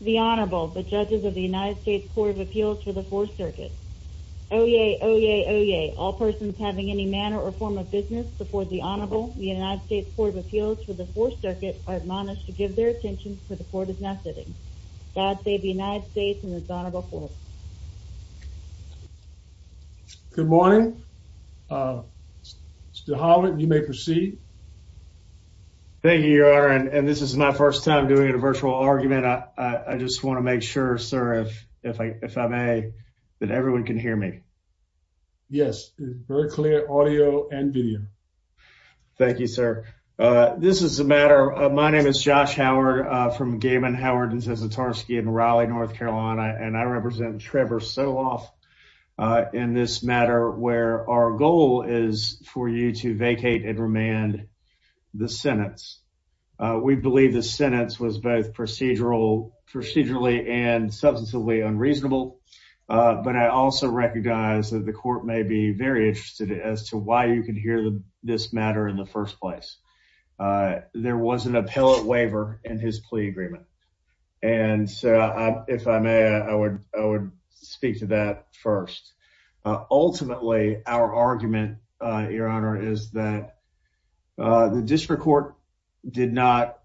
The Honorable the judges of the United States Court of Appeals for the Fourth Circuit oh yeah oh yeah oh yeah all persons having any manner or form of business before the Honorable the United States Court of Appeals for the Fourth Circuit are admonished to give their attention for the court is now sitting God save the United States and the Honorable Court. Good morning Mr. Holland you may proceed. Thank you your honor and this is my first time doing a virtual argument I just want to make sure sir if I if I may that everyone can hear me. Yes very clear audio and video. Thank you sir this is a matter of my name is Josh Howard from Gaiman Howard and Zasatarsky in Raleigh North Carolina and I represent Trevor Soloff in this matter where our goal is for you to vacate and remand the sentence. We believe the sentence was both procedural procedurally and substantively unreasonable but I also recognize that the court may be very interested as to why you can hear this matter in the first place. There was an argument and if I may I would speak to that first. Ultimately our argument your honor is that the district court did not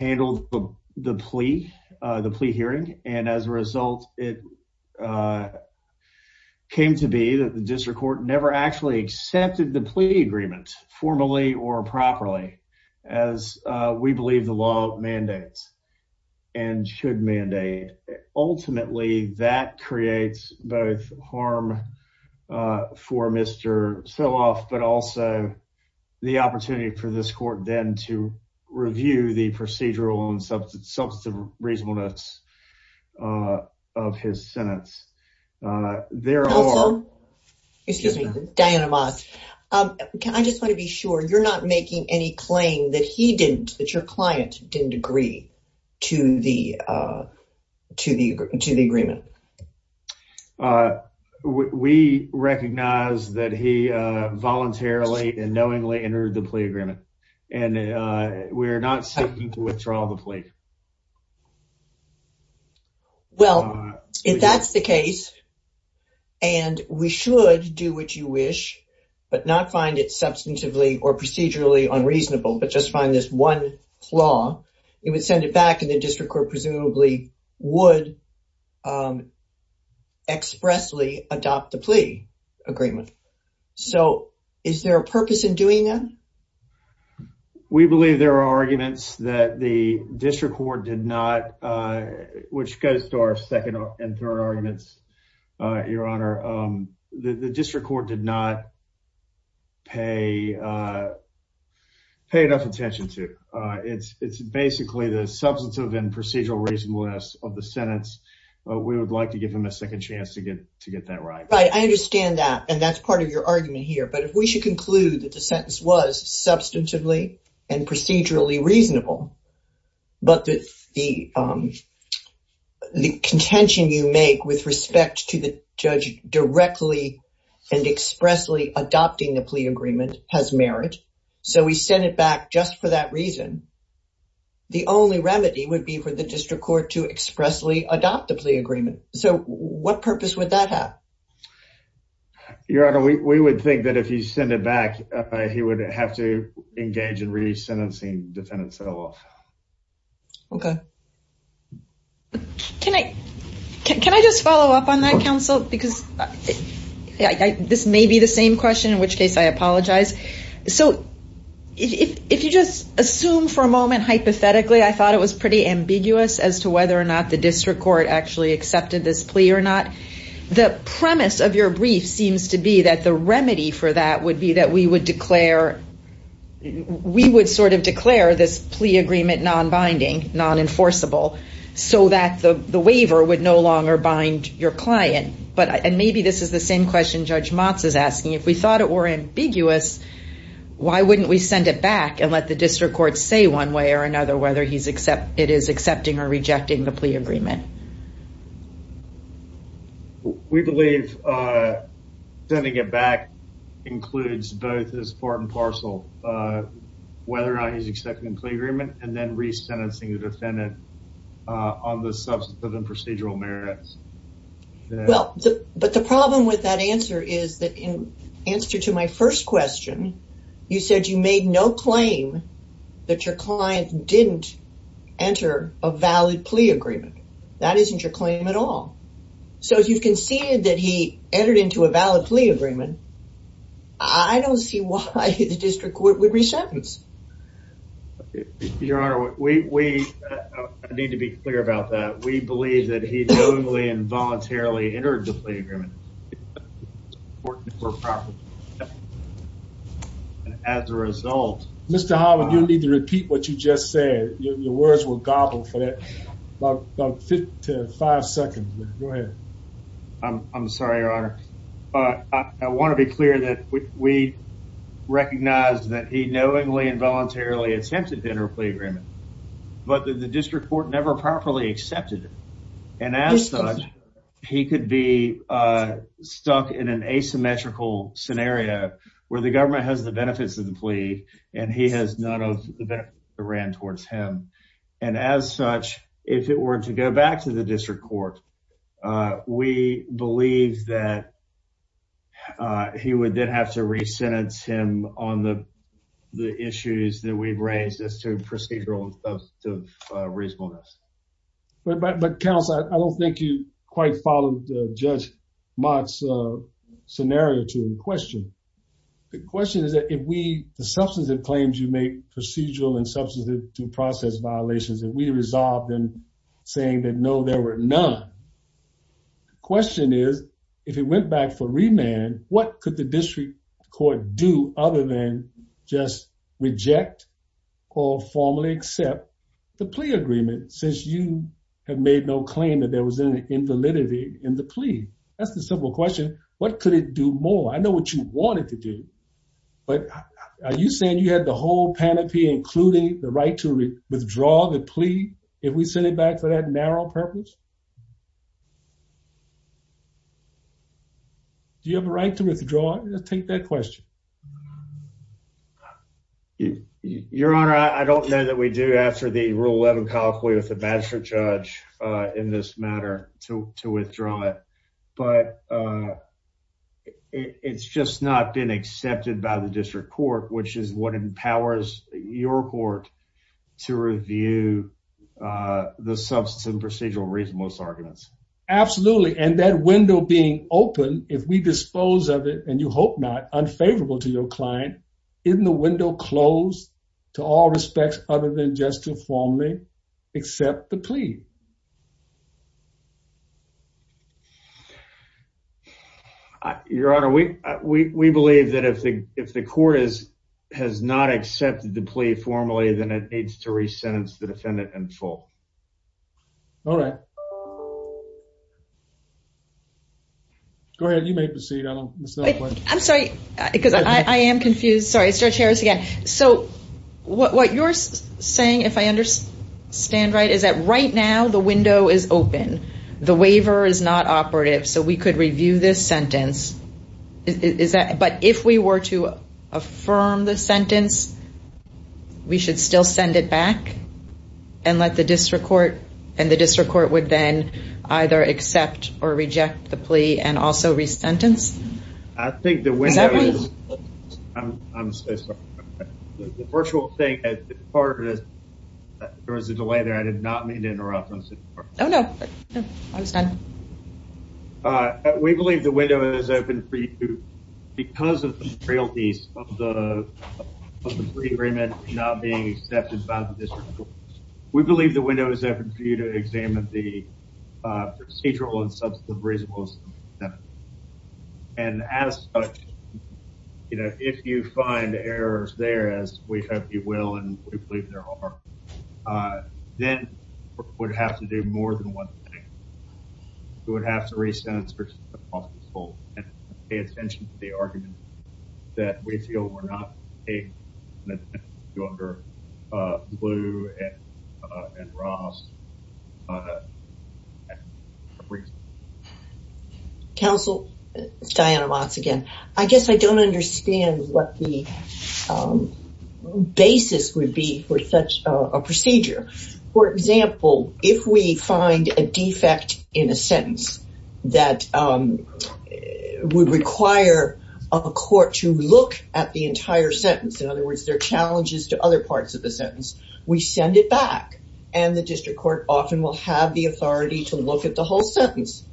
handle the plea the plea hearing and as a result it came to be that the district court never actually accepted the plea agreement formally or properly as we believe the law mandates and should mandate. Ultimately that creates both harm for Mr. Soloff but also the opportunity for this court then to review the procedural and substantive reasonableness of his sentence. There are excuse me Diana Moss can I just want to be sure you're not making any claim that he didn't that your client didn't agree to the to the to the agreement. We recognize that he voluntarily and well if that's the case and we should do what you wish but not find it substantively or procedurally unreasonable but just find this one flaw you would send it back and the district court presumably would expressly adopt the plea agreement. So is there a purpose in doing that? We believe there are arguments that the district court did not which goes to our second and third arguments your honor the district court did not pay pay enough attention to it's it's basically the substantive and procedural reasonableness of the sentence we would like to give him a second chance to get to get that right. Right I understand that and that's part of your argument here but if we should that the sentence was substantively and procedurally reasonable but that the contention you make with respect to the judge directly and expressly adopting the plea agreement has merit so we send it back just for that reason the only remedy would be for the district court to expressly adopt the plea agreement so what purpose would that have? Your honor we would think that if you send it back he would have to engage in re-sentencing defendants at all. Okay can I can I just follow up on that counsel because this may be the same question in which case I apologize so if you just assume for a moment hypothetically I thought it was pretty ambiguous as to whether or not the district court actually accepted this plea or not the premise of your brief seems to be that the remedy for that would be that we would declare we would sort of declare this plea agreement non-binding non-enforceable so that the the waiver would no longer bind your client but and maybe this is the same question Judge Motz is asking if we thought it were ambiguous why wouldn't we send it back and let the district court say one way or another whether he's except it is accepting or rejecting the plea agreement? We believe sending it back includes both as part and parcel whether or not he's accepting the plea agreement and then re-sentencing the defendant on the substantive and procedural merits. Well but the problem with that answer is that in answer to my first question you said you made no claim that your client didn't enter a valid plea agreement that isn't your claim at all so if you've conceded that he entered into a valid plea agreement I don't see why the district court would re-sentence. Your honor we need to be clear about that we believe that he knowingly and voluntarily entered the Mr. Holland you need to repeat what you just said your words will gobble for that about five seconds. I'm sorry your honor I want to be clear that we recognized that he knowingly and voluntarily attempted to enter a plea agreement but the district court never properly accepted it and as such he could be stuck in an asymmetrical scenario where the government has the has none of that ran towards him and as such if it were to go back to the district court we believe that he would then have to re-sentence him on the issues that we've raised as to procedural and substantive reasonableness. But counsel I don't think you quite followed Judge Mott's scenario to the question. The substantive claims you make procedural and substantive due process violations that we resolved and saying that no there were none. The question is if it went back for remand what could the district court do other than just reject or formally accept the plea agreement since you have made no claim that there was any invalidity in the plea? That's the simple question what could it do more? I know what you wanted to do but are you saying you had the whole panoply including the right to withdraw the plea if we send it back for that narrow purpose? Do you have a right to withdraw it? Take that question. Your honor I don't know that we do after the rule 11 colloquy with the magistrate judge in this matter to withdraw it but it's just not been accepted by the district court which is what empowers your court to review the substantive procedural reasonableness arguments. Absolutely and that window being open if we dispose of it and you hope not unfavorable to your client isn't the window closed to all Your honor we we believe that if the if the court is has not accepted the plea formally then it needs to re-sentence the defendant in full. All right go ahead you may proceed. I'm sorry because I am confused sorry I start here again so what you're saying if I understand right is that right now the window is open the waiver is not operative so we could review this sentence is that but if we were to affirm the sentence we should still send it back and let the district court and the district court would then either accept or reject the plea and also re-sentence? I think the window is, I'm so sorry, the virtual thing there was a delay there I did not mean to interrupt. Oh no I was done. We believe the window is open for you because of the realities of the plea agreement not being accepted by the district court. We believe the window is open for you to examine the procedural and substantive reasonableness and as you know if you find errors there as we hope you will and we believe there are then we would have to do more than one thing. We would have to re-sentence the defendant in full and pay attention to the argument that we feel were not paid enough attention to under Blue and Ross and Caprizo. Counsel, Diana Watts again. I guess I don't understand what the basis would be for such a procedure. For example, if we find a defect in a sentence that would require a court to look at the entire sentence in other words there are challenges to other parts of the sentence we send it back and the district court often will have the authority to look at the whole sentence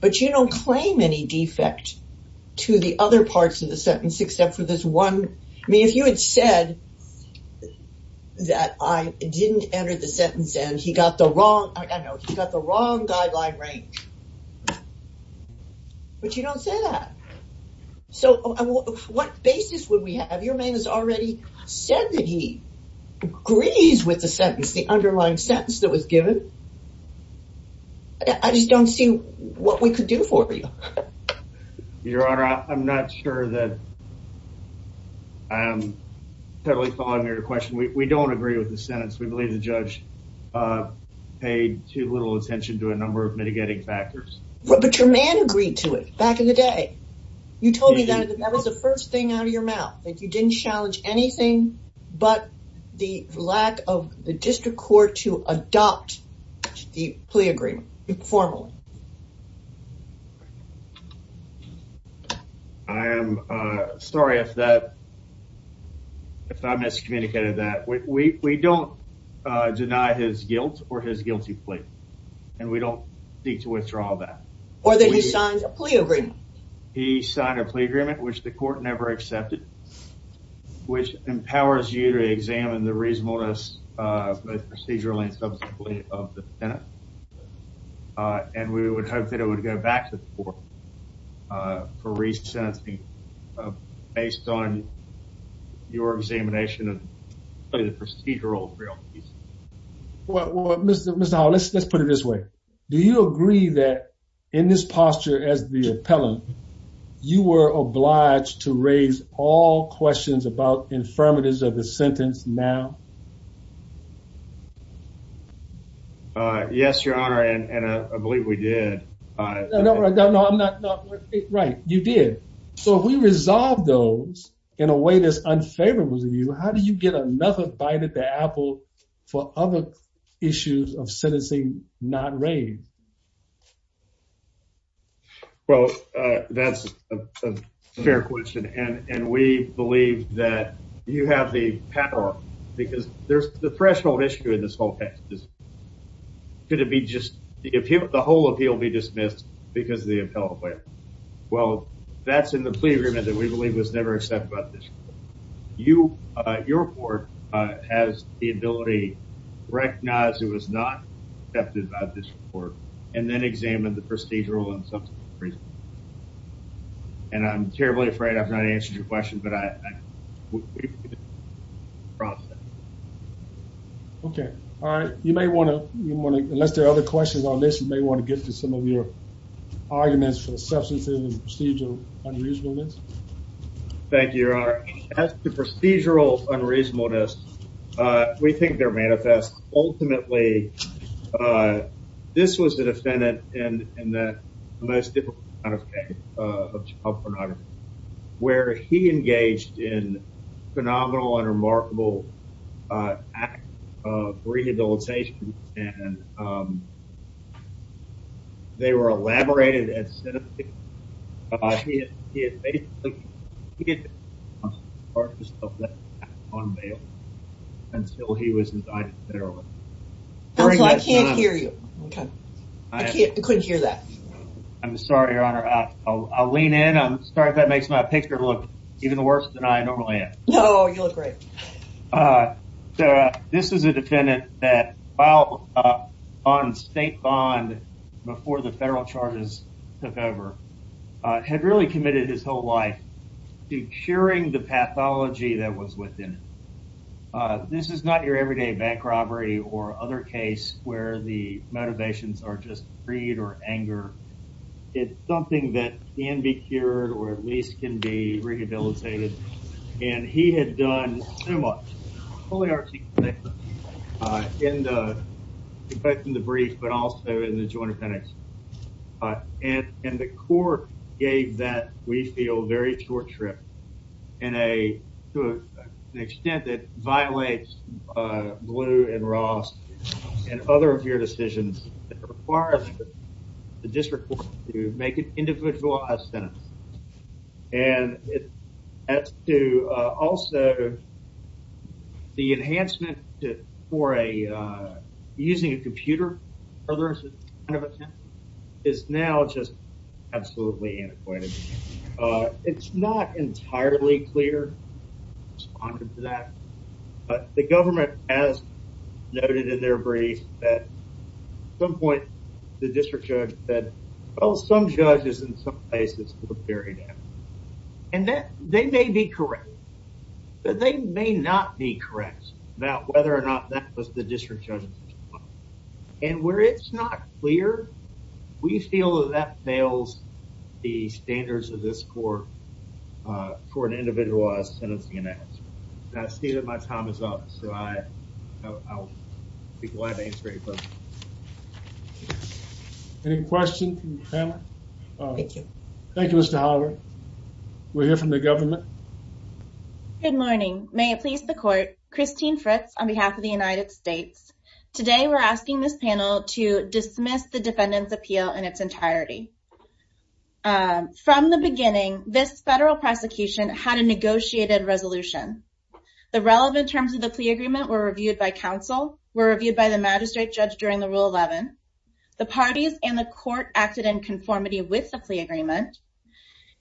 but you don't claim any defect to the other parts of the sentence except for this one I mean if you had said that I didn't enter the sentence and he got the wrong I know he got the wrong guideline range but you don't say that so what basis would we have your man has already said that he agrees with the sentence the underlying sentence that was given I just don't see what we could do for you your honor I'm not sure that I'm totally following your question we don't agree with the sentence we believe the judge paid too little attention to a number of mitigating factors but your man agreed to it back in the day you told me that that was the first thing out of your mouth that you didn't challenge anything but the lack of the district court to adopt the plea agreement informally I am sorry if that if I miscommunicated that we don't deny his guilt or his guilty plea and we don't seek to withdraw that or that he signs a plea agreement he empowers you to examine the reasonableness both procedurally and subsequently of the Senate and we would hope that it would go back to the court for resenting based on your examination of the procedural realty well what mr. mizal let's let's put it this way do you agree that in this posture as the of the sentence now yes your honor and I believe we did no I'm not right you did so if we resolve those in a way this unfavorable to you how do you get another bite at the apple for other issues of sentencing not raised well that's a fair question and and we believe that you have the power because there's the threshold issue in this whole text is could it be just the appeal of the whole appeal be dismissed because the appellate well that's in the plea agreement that we believe was never except about this you your report has the ability recognize it was not accepted by this report and then examine the procedural and some reason and I'm terribly afraid I've not answered your question but I okay all right you may want to you want to unless there are other questions on this you may want to get to some of your arguments for the substance in the procedural unreasonableness thank you your honor as the procedural unreasonableness we think they're manifest ultimately this was the and that most difficult kind of case of child pornography where he engaged in phenomenal and remarkable act of rehabilitation and they were elaborated as he had on bail until he was indicted fairly. Counselor I can't hear you okay I can't hear that I'm sorry your honor I'll lean in I'm sorry if that makes my picture look even the worst than I normally am. No you look great. So this is a defendant that filed on state bond before the federal charges took over had really committed his whole life to curing the pathology that was within it this is not your everyday bank robbery or other case where the motivations are just greed or anger it's something that can be cured or at least can be rehabilitated and he had done so much in the brief but also in the joint appendix and and the court gave that we feel very short trip in a to an extent that violates blue and Ross and other of your decisions that require the district to make an individualized sentence and it adds to also the enhancement for a using a computer or there's a kind of attempt is now just it's not entirely clear to that but the government has noted in their brief that some point the district judge said well some judges in some places for the period and that they may be correct but they may not be correct about whether or not that was the district judge and where it's not clear we feel that that the standards of this for for an individualized and it's gonna see that my time is up so I'll be glad to answer any questions thank you thank you mr. Howard we're here from the government good morning may it please the court Christine Fritz on behalf of the United States today we're asking this panel to from the beginning this federal prosecution had a negotiated resolution the relevant terms of the plea agreement were reviewed by counsel were reviewed by the magistrate judge during the rule 11 the parties and the court acted in conformity with the plea agreement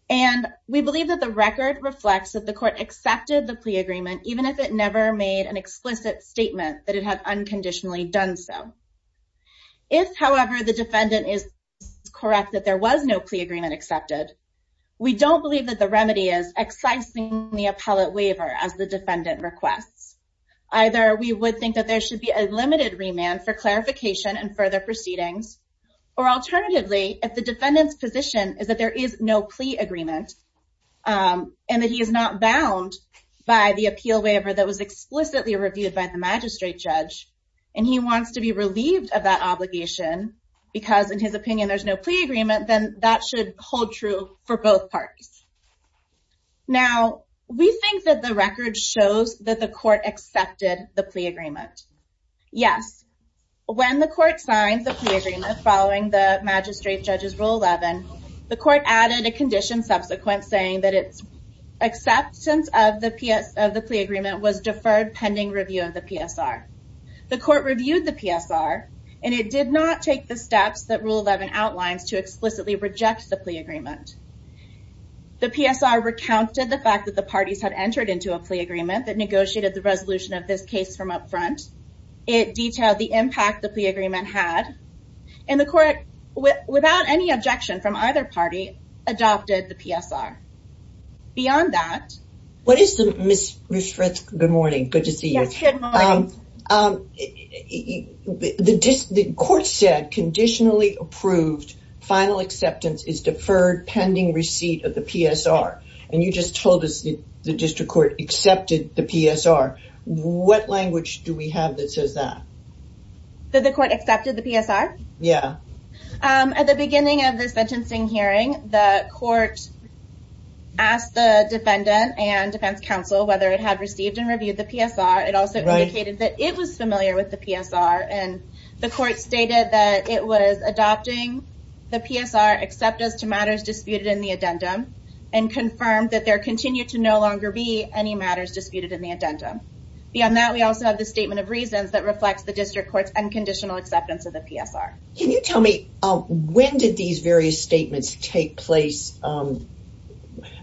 and we believe that the record reflects that the court accepted the plea agreement even if it never made an explicit statement that it had unconditionally done so if however the defendant is correct that there was no plea agreement accepted we don't believe that the remedy is excising the appellate waiver as the defendant requests either we would think that there should be a limited remand for clarification and further proceedings or alternatively if the defendant's position is that there is no plea agreement and that he is not bound by the appeal waiver that was explicitly reviewed by the magistrate judge and he wants to be relieved of that obligation because in his opinion there's no plea agreement then that should hold true for both parties now we think that the record shows that the court accepted the plea agreement yes when the court signed the agreement following the magistrate judge's rule 11 the court added a condition subsequent saying that it's acceptance of the PS of the plea agreement was deferred pending review of the PSR the court reviewed the PSR and it did not take the steps that rule 11 outlines to explicitly reject the plea agreement the PSR recounted the fact that the parties had entered into a plea agreement that negotiated the resolution of this case from up front it detailed the impact the plea agreement had and the court without any objection from either party adopted the PSR beyond that what is the miss miss Fritz good morning good to see you um the court said conditionally approved final acceptance is deferred pending receipt of the PSR and you just told us the district court accepted the PSR what language do we have that says that that the court accepted the PSR yeah at the beginning of this sentencing hearing the court asked the defendant and defense counsel whether it had received and reviewed the PSR it also indicated that it was familiar with the PSR and the court stated that it was adopting the PSR except as to matters disputed in the addendum and confirmed that there continued to no longer be any matters disputed in the addendum beyond that we also have the statement of reasons that reflects the district courts and conditional acceptance of the PSR can you tell me when did these various statements take place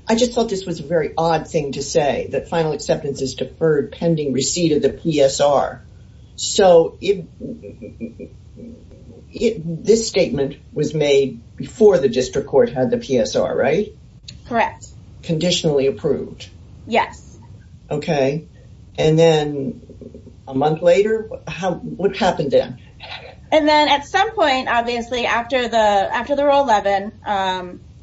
I just thought this was a very odd thing to say that final acceptance is deferred pending receipt of the PSR so if this statement was made before the district court had the PSR right correct conditionally approved yes okay and then a month later how what happened then and then at some point obviously after the after the rule 11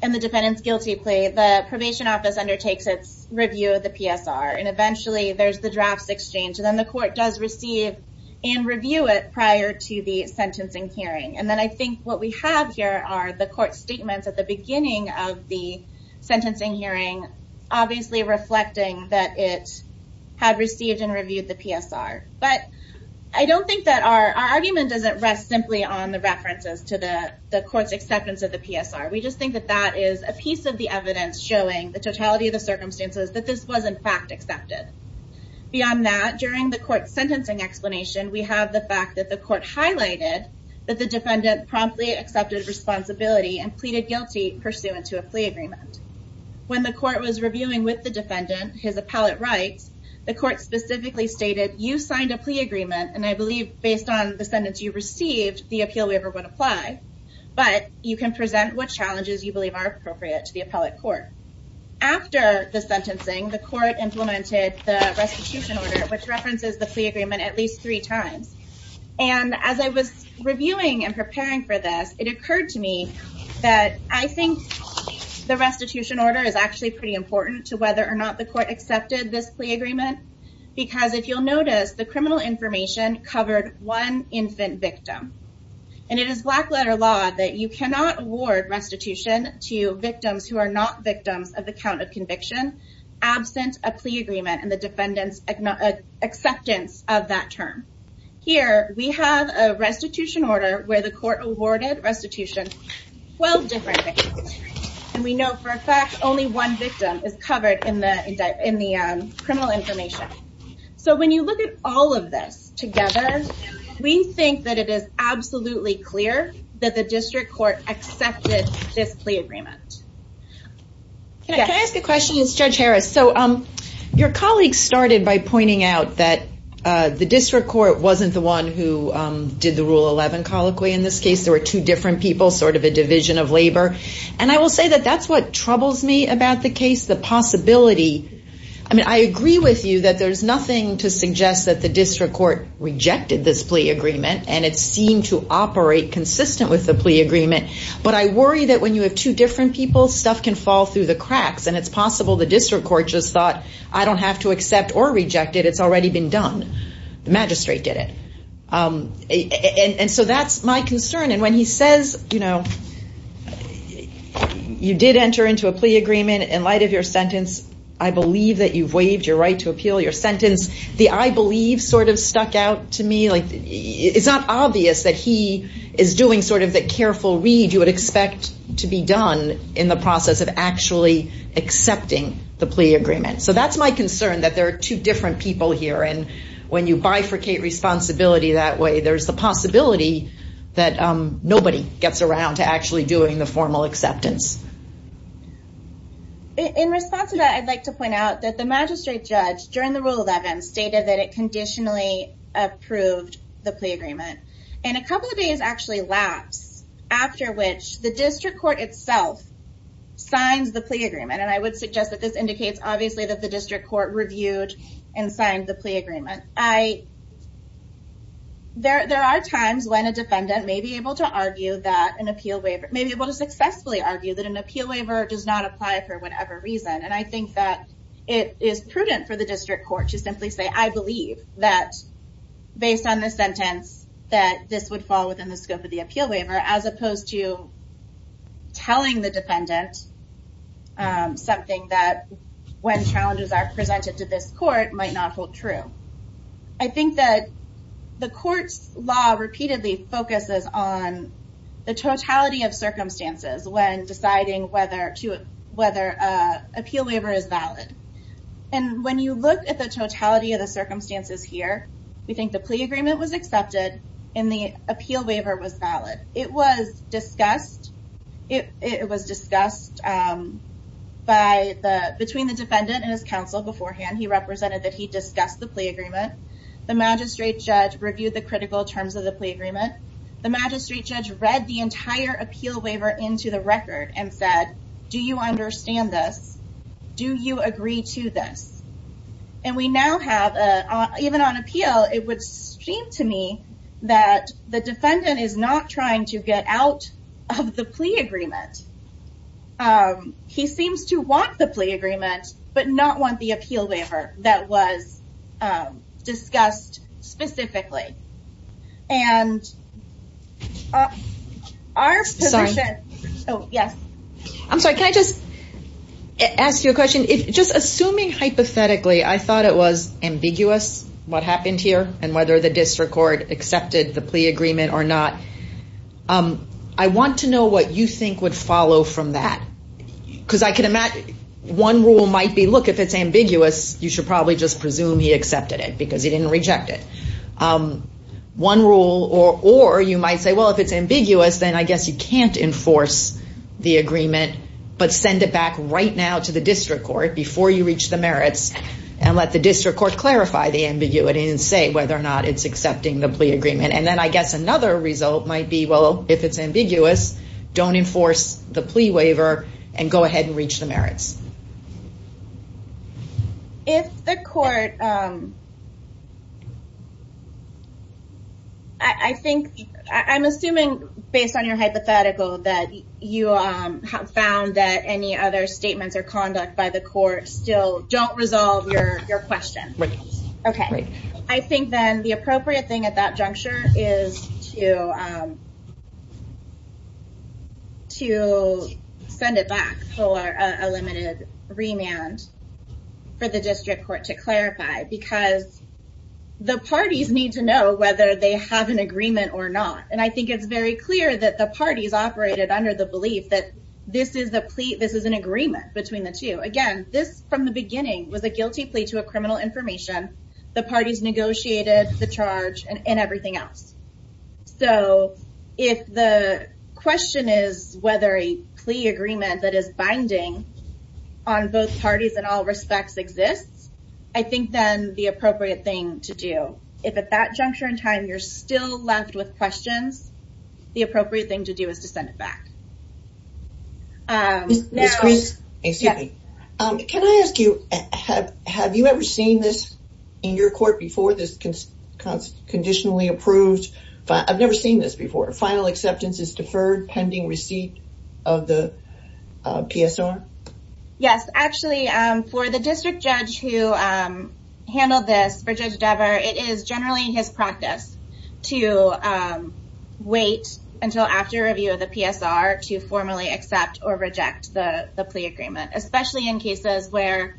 and the defendant's guilty plea the probation office undertakes its review of the PSR and eventually there's the drafts exchange and then the court does receive and review it prior to the sentencing hearing and then I think what we have here are the court statements at the beginning of the sentencing hearing obviously reflecting that it had received and reviewed the PSR but I don't think that our argument doesn't rest simply on the references to the court's acceptance of the PSR we just think that that is a piece of the evidence showing the totality of the circumstances that this was in fact accepted beyond that during the court sentencing explanation we have the fact that the court highlighted that the defendant promptly accepted responsibility and pleaded guilty pursuant to a plea agreement when the court was reviewing with the defendant his appellate rights the court specifically stated you signed a plea agreement and I believe based on the sentence you received the appeal waiver would apply but you can present what challenges you believe are appropriate to the appellate court after the sentencing the court implemented the restitution order which references the and as I was reviewing and preparing for this it occurred to me that I think the restitution order is actually pretty important to whether or not the court accepted this plea agreement because if you'll notice the criminal information covered one infant victim and it is black letter law that you cannot award restitution to victims who are not victims of the count of conviction absent a plea agreement and the defendants acceptance of that term here we have a restitution order where the court awarded restitution 12 different victims and we know for a fact only one victim is covered in the in the criminal information so when you look at all of this together we think that it is absolutely clear that the district court accepted this plea agreement. Can I ask a question as Judge Harris so um your colleagues started by pointing out that the district court wasn't the one who did the rule 11 colloquy in this case there were two different people sort of a division of labor and I will say that that's what troubles me about the case the possibility I mean I agree with you that there's nothing to suggest that the district court rejected this plea agreement and it seemed to operate consistent with the plea agreement but I worry that when you have two different people stuff can fall through the cracks and it's possible the district court just thought I don't have to accept or magistrate did it and so that's my concern and when he says you know you did enter into a plea agreement in light of your sentence I believe that you've waived your right to appeal your sentence the I believe sort of stuck out to me like it's not obvious that he is doing sort of the careful read you would expect to be done in the process of actually accepting the plea agreement so that's my concern that there are two different people here and when you bifurcate responsibility that way there's the possibility that nobody gets around to actually doing the formal acceptance. In response to that I'd like to point out that the magistrate judge during the rule 11 stated that it conditionally approved the plea agreement and a couple of days actually lapsed after which the district court itself signs the plea agreement and I would suggest that this indicates obviously that the district court reviewed and signed the plea agreement. I there there are times when a defendant may be able to argue that an appeal waiver may be able to successfully argue that an appeal waiver does not apply for whatever reason and I think that it is prudent for the district court to simply say I believe that based on the sentence that this would fall within the scope of the appeal waiver as opposed to telling the defendant something that when challenges are presented to this court might not hold true. I think that the court's law repeatedly focuses on the totality of circumstances when deciding whether to whether appeal waiver is valid and when you look at the totality of the circumstances here we think the plea agreement was accepted and the appeal waiver was valid. It was discussed it was discussed by the between the defendant and his counsel beforehand he represented that he discussed the plea agreement the magistrate judge reviewed the critical terms of the plea agreement the magistrate judge read the entire appeal waiver into the record and said do you understand this do you agree to this and we now have a even on appeal it would seem to me that the defendant is not trying to get out of the plea agreement. He seems to want the plea agreement but not want the appeal waiver that was discussed specifically and I'm sorry can I just ask you a question if just assuming hypothetically I thought it was ambiguous what happened here and whether the district court accepted the I want to know what you think would follow from that because I can imagine one rule might be look if it's ambiguous you should probably just presume he accepted it because he didn't reject it one rule or or you might say well if it's ambiguous then I guess you can't enforce the agreement but send it back right now to the district court before you reach the merits and let the district court clarify the ambiguity and say whether or not it's accepting the might be well if it's ambiguous don't enforce the plea waiver and go ahead and reach the merits. If the court I think I'm assuming based on your hypothetical that you have found that any other statements or conduct by the court still don't resolve your question. Okay I think then the appropriate thing at that to send it back for a limited remand for the district court to clarify because the parties need to know whether they have an agreement or not and I think it's very clear that the parties operated under the belief that this is the plea this is an agreement between the two again this from the beginning was a guilty plea to a criminal information the parties negotiated the if the question is whether a plea agreement that is binding on both parties and all respects exists I think then the appropriate thing to do if at that juncture in time you're still left with questions the appropriate thing to do is to send it back. Can I ask you have have you ever seen this in your court before this conditionally approved but I've never seen this before final acceptance is deferred pending receipt of the PSR? Yes actually for the district judge who handled this for Judge Dever it is generally his practice to wait until after review of the PSR to formally accept or reject the plea agreement especially in cases where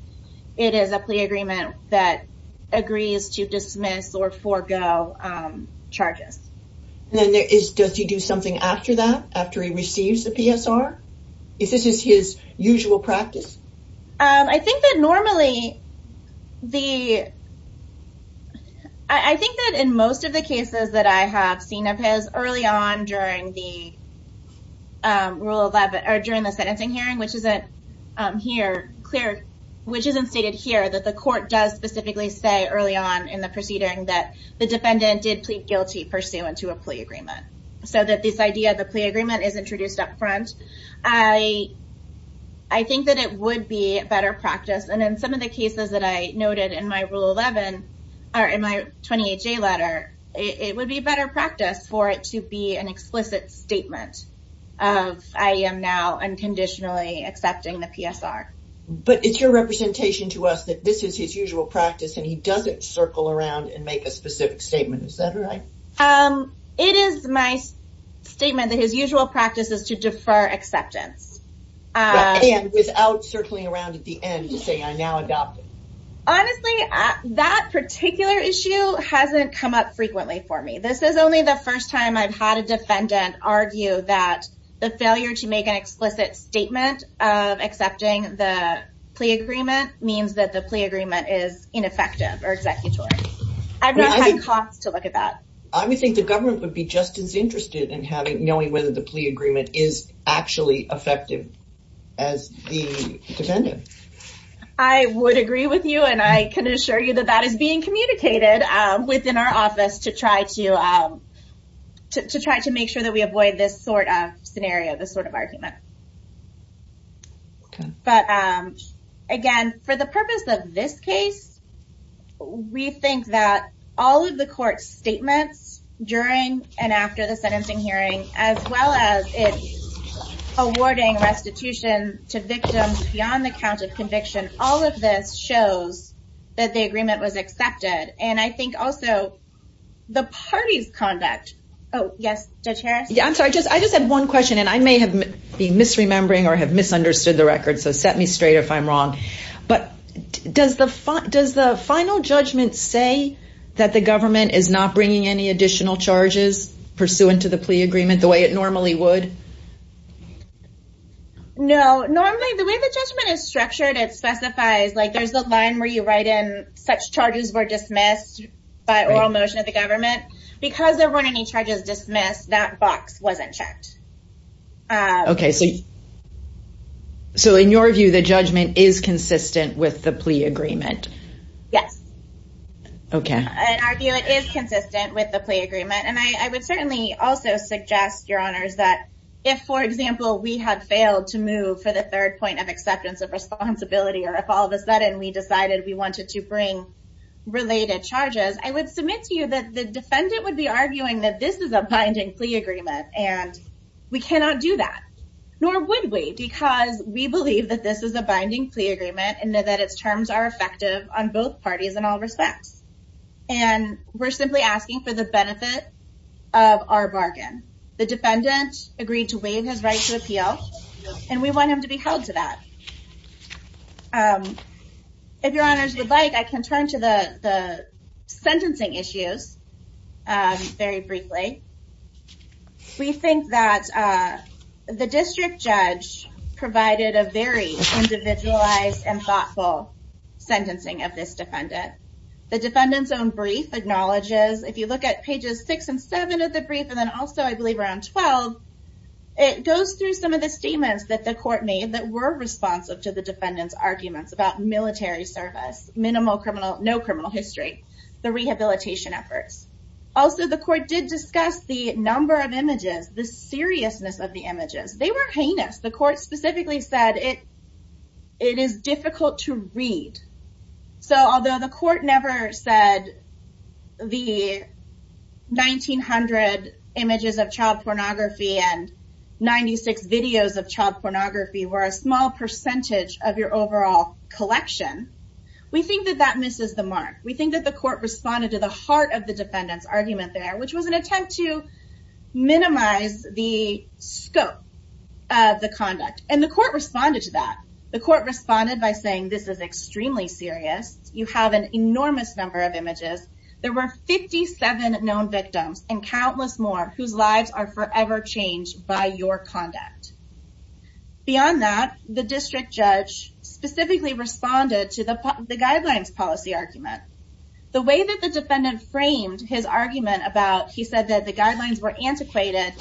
it is a plea agreement that agrees to dismiss or forego charges. Then there is does he do something after that after he receives the PSR is this is his usual practice? I think that normally the I think that in most of the cases that I have seen of his early on during the rule 11 or during the sentencing hearing which isn't here clear which isn't stated here that the court does specifically say early on in the proceeding that the defendant did plead guilty pursuant to a plea agreement so that this idea of the plea agreement is introduced up front I I think that it would be a better practice and in some of the cases that I noted in my rule 11 or in my 28 J letter it would be better practice for it to be an explicit statement of I am now unconditionally accepting the PSR. But it's your representation to us that this is his usual practice and he doesn't circle around and make a specific statement is that right? It is my statement that his usual practice is to defer acceptance. And without circling around at the end to say I now adopt it. Honestly that particular issue hasn't come up I would argue that the failure to make an explicit statement of accepting the plea agreement means that the plea agreement is ineffective or executory. I've not had costs to look at that. I would think the government would be just as interested in having knowing whether the plea agreement is actually effective as the defendant. I would agree with you and I can assure you that that is being communicated within our office to try to to try to make sure that we avoid this sort of scenario this sort of argument. But again for the purpose of this case we think that all of the court's statements during and after the sentencing hearing as well as it's awarding restitution to victims beyond the count of conviction all of this shows that the agreement was accepted and I think also the party's conduct. I just had one question and I may have been misremembering or have misunderstood the record so set me straight if I'm wrong but does the final judgment say that the government is not bringing any additional charges pursuant to the plea agreement the way it normally would? No normally the way the judgment is structured it specifies like there's the line where you write in such charges were dismissed by oral motion of the government because there weren't any charges dismissed that box wasn't checked. Okay so so in your view the judgment is consistent with the plea agreement? Yes. Okay. In our view it is consistent with the plea agreement and I would certainly also suggest your honors that if for example we had failed to move for the third point of acceptance of responsibility or if all of a sudden we decided we wanted to bring related charges I would submit to you that the defendant would be arguing that this is a binding plea agreement and we cannot do that nor would we because we believe that this is a binding plea agreement and that its terms are effective on both parties in all respects and we're simply asking for the benefit of our bargain. The defendant agreed to waive his right to appeal and we want him to be held to that. If your honors would like I can turn to the sentencing issues very briefly. We think that the district judge provided a very individualized and thoughtful sentencing of this defendant. The defendant's own brief acknowledges if you look at pages 6 and 7 of the brief and then also I believe around 12 it goes through some of the statements that the court made that were responsive to the defendant's arguments about military service, minimal criminal, no criminal history, the rehabilitation efforts. Also the court did discuss the number of images, the seriousness of the images. They were heinous. The court specifically said it it is difficult to read. So although the court never said the 1,900 images of child pornography and 96 videos of child pornography were a small percentage of your overall collection, we think that that misses the mark. We think that the court responded to the heart of the defendant's argument there which was an attempt to minimize the scope of the conduct and the court responded to that. The court responded by saying this is extremely serious. You have an enormous number of images. There were 57 known victims and countless more whose lives are forever changed by your conduct. Beyond that the district judge specifically responded to the guidelines policy argument. The way that the defendant framed his argument about he said that the guidelines were antiquated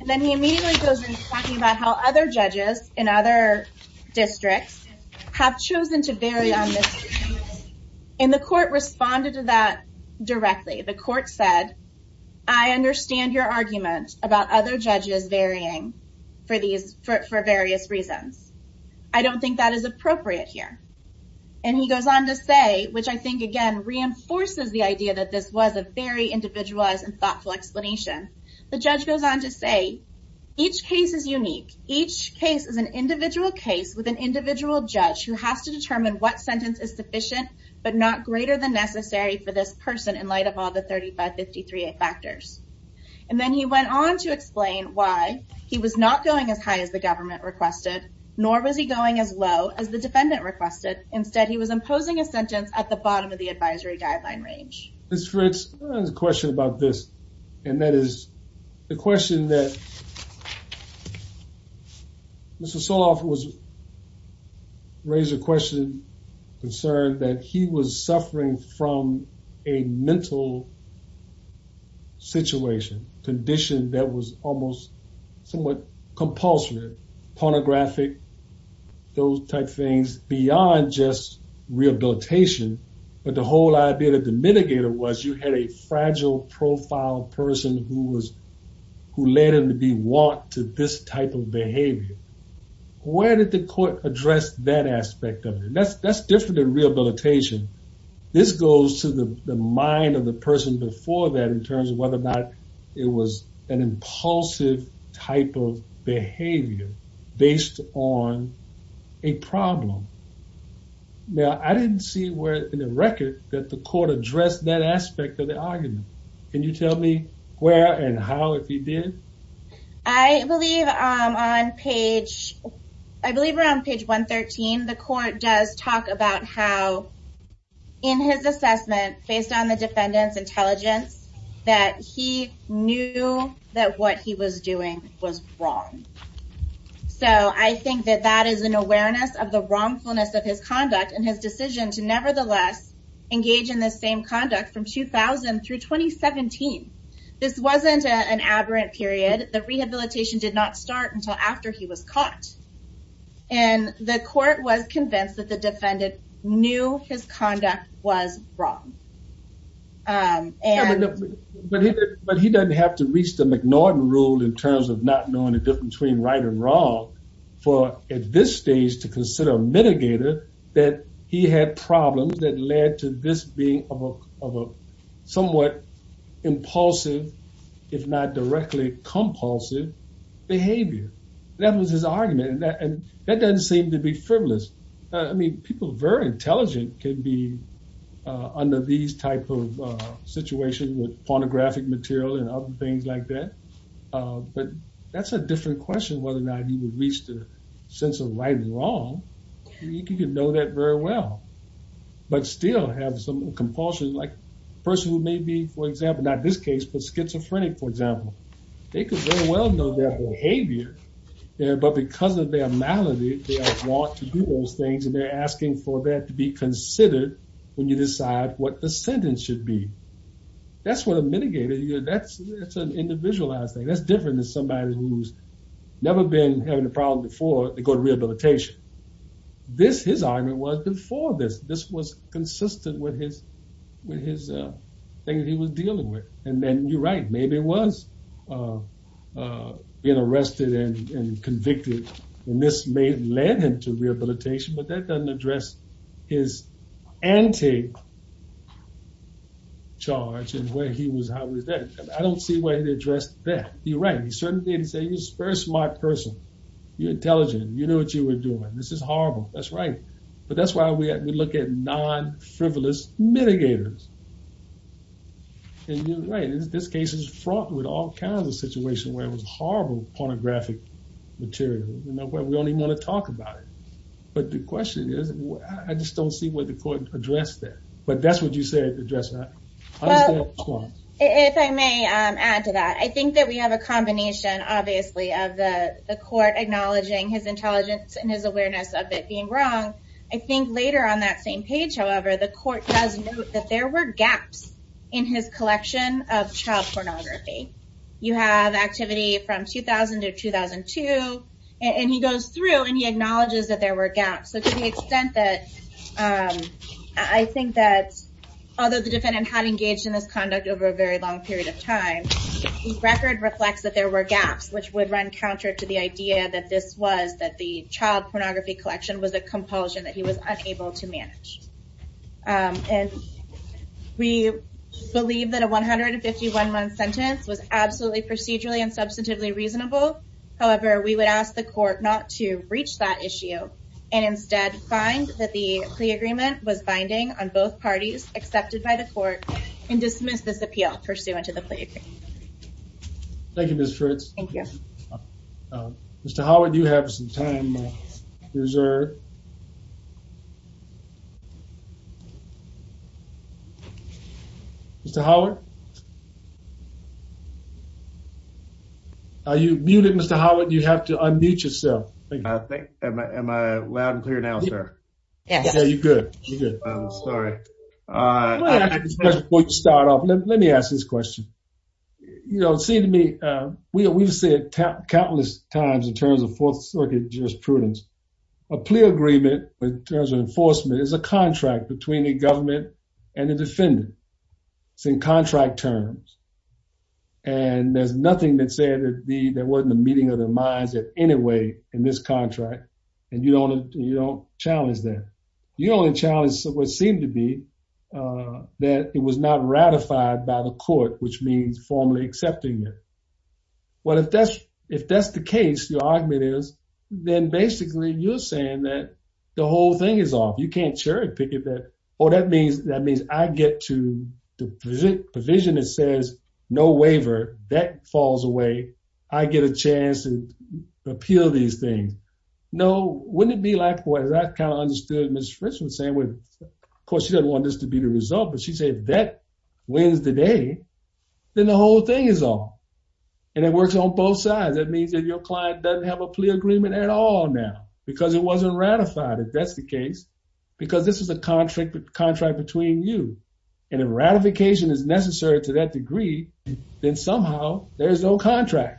and then he immediately goes into talking about how other judges in other districts have chosen to vary on this and the court responded to that directly. The court said I understand your argument about other judges varying for these for various reasons. I don't think that is appropriate here and he goes on to say which I think again reinforces the idea that this was a very individualized and thoughtful explanation. The judge goes on to say each case is unique. Each case is an individual case with an individual judge who has to determine what sentence is sufficient but not greater than necessary for this person in light of all the 3553a factors and then he went on to explain why he was not going as high as the government requested nor was he going as low as the defendant requested. Instead he was imposing a sentence at the bottom of the advisory guideline range. Ms. Fritz, I have a question about this and that is the question that Mr. Soloff was raised a question concern that he was suffering from a mental situation condition that was almost somewhat compulsory, pornographic, those type things beyond just rehabilitation but the whole idea that the mitigator was you had a fragile profile person who was who led him to be want to this type of behavior. Where did the court address that aspect of it? That's that's different than rehabilitation. This goes to the mind of the person before that in terms of whether or not it was an record that the court addressed that aspect of the argument. Can you tell me where and how if he did? I believe on page I believe around page 113 the court does talk about how in his assessment based on the defendants intelligence that he knew that what he was doing was wrong. So I think that that is an awareness of the wrongfulness of his conduct and his decision to nevertheless engage in the same conduct from 2000 through 2017. This wasn't an aberrant period. The rehabilitation did not start until after he was caught and the court was convinced that the defendant knew his conduct was wrong. But he doesn't have to reach the McNorton rule in terms of not knowing the difference between right and wrong for at this stage to consider a mitigator that he had problems that led to this being of a somewhat impulsive if not directly compulsive behavior. That was his argument and that doesn't seem to be frivolous. I mean people very intelligent can be under these type of situation with pornographic material and other things like that. But that's a different question whether or not he would reach the sense of right and wrong. You can know that very well but still have some compulsion like person who may be for example not this case but schizophrenic for example. They could very well know their behavior but because of their malady they want to do those things and they're asking for that to be considered when you decide what the sentence should be. That's what a mitigator that's an individualized thing. That's different than somebody who's never been having a problem before they go to rehabilitation. This his argument was before this. This was consistent with his thing that he was dealing with. And then you're right maybe it was being arrested and convicted and this may have led him to rehabilitation but that doesn't address his anti-charge and where he was how he was then. I don't see where he addressed that. You're right. He certainly didn't say you're a smart person. You're intelligent. You know what you were doing. This is horrible. That's right. But that's why we look at non-frivolous mitigators. And you're right. This case is fraught with all kinds of situations where it was horrible pornographic material. We don't even want to talk about it. But the question is I just don't see where the court addressed that. But that's what you said addressed that. Well, if I may add to that, I think that we have a combination obviously of the court acknowledging his intelligence and his awareness of it being wrong. I think later on that same page, however, the court does note that there were gaps in his collection of child pornography. You have activity from 2000 to 2002. And he goes through and he acknowledges that there were gaps. So to the extent that I think that although the defendant had engaged in this conduct over a very long period of time, the record reflects that there were gaps, which would run counter to the idea that this was that the child pornography collection was a compulsion that he was unable to manage. And we believe that a 151 month sentence was absolutely procedurally and substantively reasonable. However, we would ask the court not to reach that issue, and instead find that the plea agreement was on both parties accepted by the court and dismiss this appeal pursuant to the plea agreement. Thank you, Ms. Fritz. Thank you. Mr. Howard, you have some time reserved. Mr. Howard? Are you muted, Mr. Howard? You have to unmute yourself. Am I loud and clear now, sir? Yeah, you're good. I'm sorry. Before you start off, let me ask this question. You know, it seems to me, we've said countless times in terms of Fourth Circuit jurisprudence, a plea agreement in terms of enforcement is a contract between the government and the defendant. It's in contract terms. And there's nothing that says there wasn't a meeting of the minds in any way in this contract. And you don't challenge that. You only challenge what seemed to be that it was not ratified by the court, which means formally accepting it. Well, if that's the case, your argument is, then basically you're saying that the whole thing is off. You can't cherry pick it. Or that means I get to the provision that says no waiver, that falls away. I get a appeal these things. No, wouldn't it be like what I kind of understood Ms. Fritchman saying with, of course, she doesn't want this to be the result, but she said that wins the day, then the whole thing is off. And it works on both sides. That means that your client doesn't have a plea agreement at all now because it wasn't ratified, if that's the case, because this is a contract between you. And if ratification is necessary to that degree, then somehow there's no contract.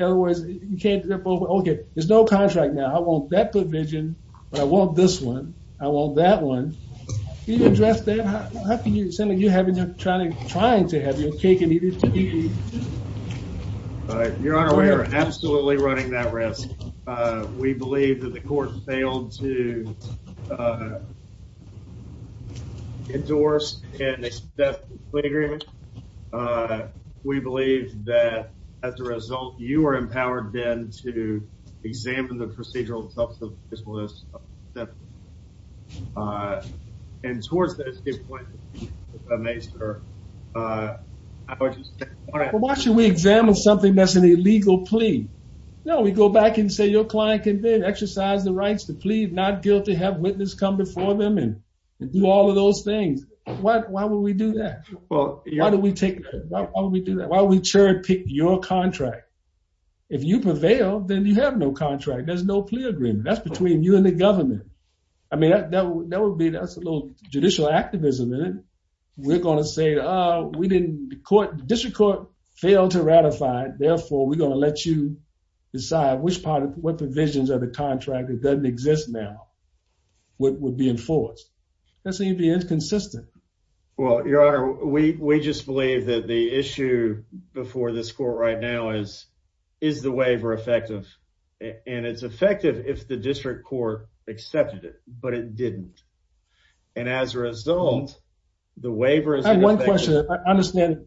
Otherwise, you can't rip over, okay, there's no contract now. I want that provision, but I want this one. I want that one. Can you address that? How can you say that you haven't been trying to have your cake and eat it? Your Honor, we are absolutely running that risk. We believe that the court as a result, you are empowered then to examine the procedural substance of this list. And towards that escape point, if I may, sir, I would just say... Well, why should we examine something that's an illegal plea? No, we go back and say your client can then exercise the rights to plead not guilty, have witness come before them and do all of those things. Why would we do that? Well... Why do we take... Why would we do that? Why would we cherry pick your contract? If you prevail, then you have no contract. There's no plea agreement. That's between you and the government. I mean, that would be... That's a little judicial activism in it. We're gonna say, we didn't... The District Court failed to ratify it, therefore, we're gonna let you decide which part of... What provisions of the contract that doesn't exist now would be enforced. That seems to be inconsistent. Well, Your Honor, we just believe that the issue before this court right now is, is the waiver effective? And it's effective if the District Court accepted it, but it didn't. And as a result, the waiver is... I have one question. I understand.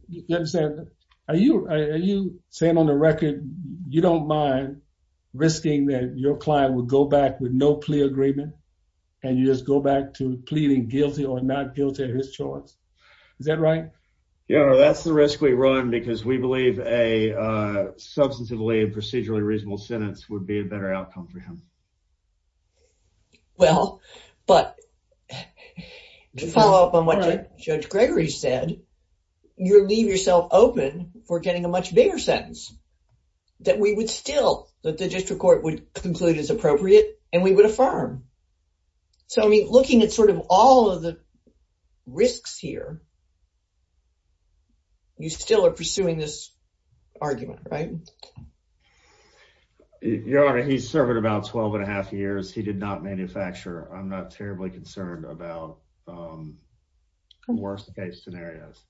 Are you saying on the record, you don't mind risking that your client would go back with no plea agreement and you just go back to pleading guilty or not guilty of his choice? Is that right? Your Honor, that's the risk we run because we believe a substantively and procedurally reasonable sentence would be a better outcome for him. Well, but to follow up on what Judge Gregory said, you leave yourself open for getting a much bigger sentence that we would still... That the District Court would conclude is appropriate and we would affirm. So, I mean, looking at sort of all of the risks here, you still are pursuing this argument, right? Your Honor, he's served about 12 and a half years. He did not manufacture. I'm not terribly concerned about worst case scenarios.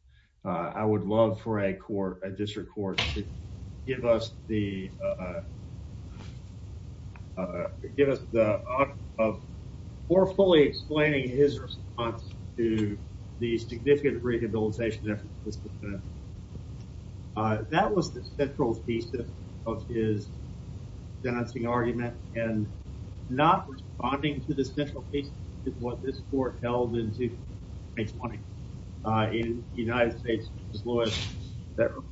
I would just... More fully explaining his response to the significant rehabilitation effort that was... That was the central piece of his sentencing argument and not responding to the central piece is what this court held in 2020 in the United States.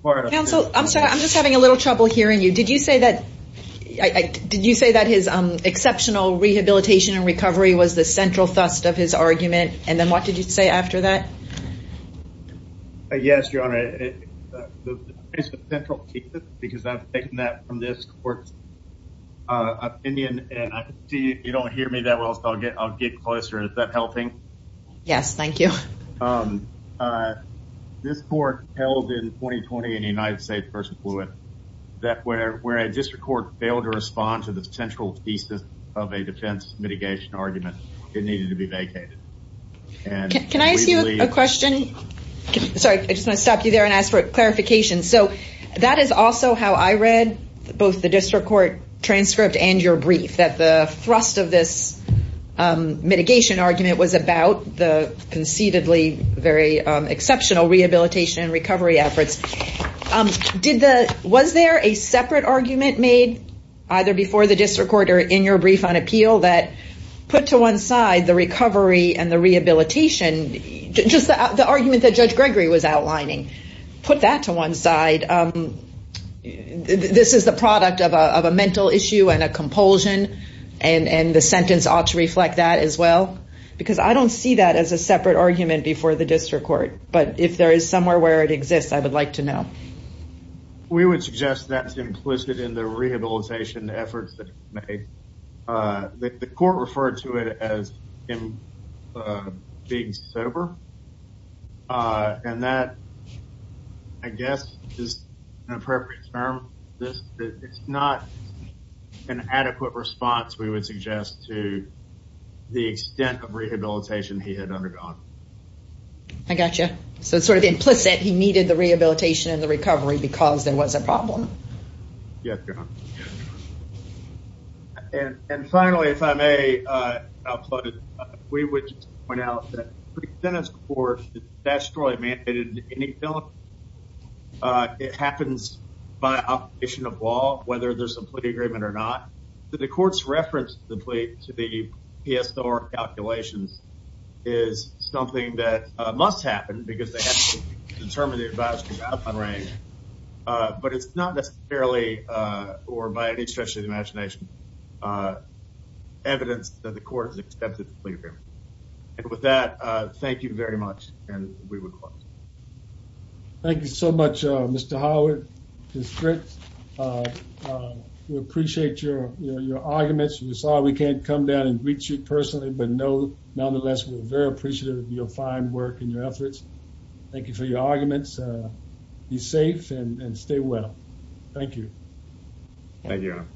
Counsel, I'm sorry. I'm just having a hard time here. Exceptional rehabilitation and recovery was the central thrust of his argument. And then what did you say after that? Yes, Your Honor. It's the central piece because I've taken that from this court's opinion and I can see if you don't hear me that well, so I'll get closer. Is that helping? Yes, thank you. This court held in 2020 in the United States versus Fluid that where a district court failed to respond to the central thesis of a defense mitigation argument, it needed to be vacated. Can I ask you a question? Sorry, I just wanna stop you there and ask for clarification. So that is also how I read both the district court transcript and your brief, that the thrust of this mitigation argument was about the concededly very exceptional rehabilitation and recovery efforts. Was there a separate argument made either before the district court or in your brief on appeal that put to one side the recovery and the rehabilitation, just the argument that Judge Gregory was outlining, put that to one side. This is the product of a mental issue and a compulsion and the sentence ought to reflect that as well because I don't see that as a separate argument before the district court, but if there is somewhere where it exists, I would like to know. We would suggest that's implicit in the rehabilitation efforts that were made. The court referred to it as him being sober and that, I guess, is an appropriate term. It's not an adequate response, we would suggest, to the extent of rehabilitation he had undergone. I got you. So it's sort of implicit he needed the rehabilitation and the recovery because there was a problem. Yes, John. And finally, if I may, we would point out that the pre-sentence court is statutorily mandated. It happens by obligation of law, whether there's a plea agreement or not. The court's reference to the PSOR calculations is something that must happen because they have to determine the advisory outcome range, but it's not necessarily, or by any stretch of the imagination, evidence that the court has accepted the plea agreement. And with that, thank you very much and we would close. Thank you so much, Mr. Howard, District. We appreciate your arguments. We're sorry we can't come down and greet you personally, but nonetheless, we're very appreciative of your fine work and your efforts. Thank you for your arguments. Be safe and stay well. Thank you. Thank you, Adam.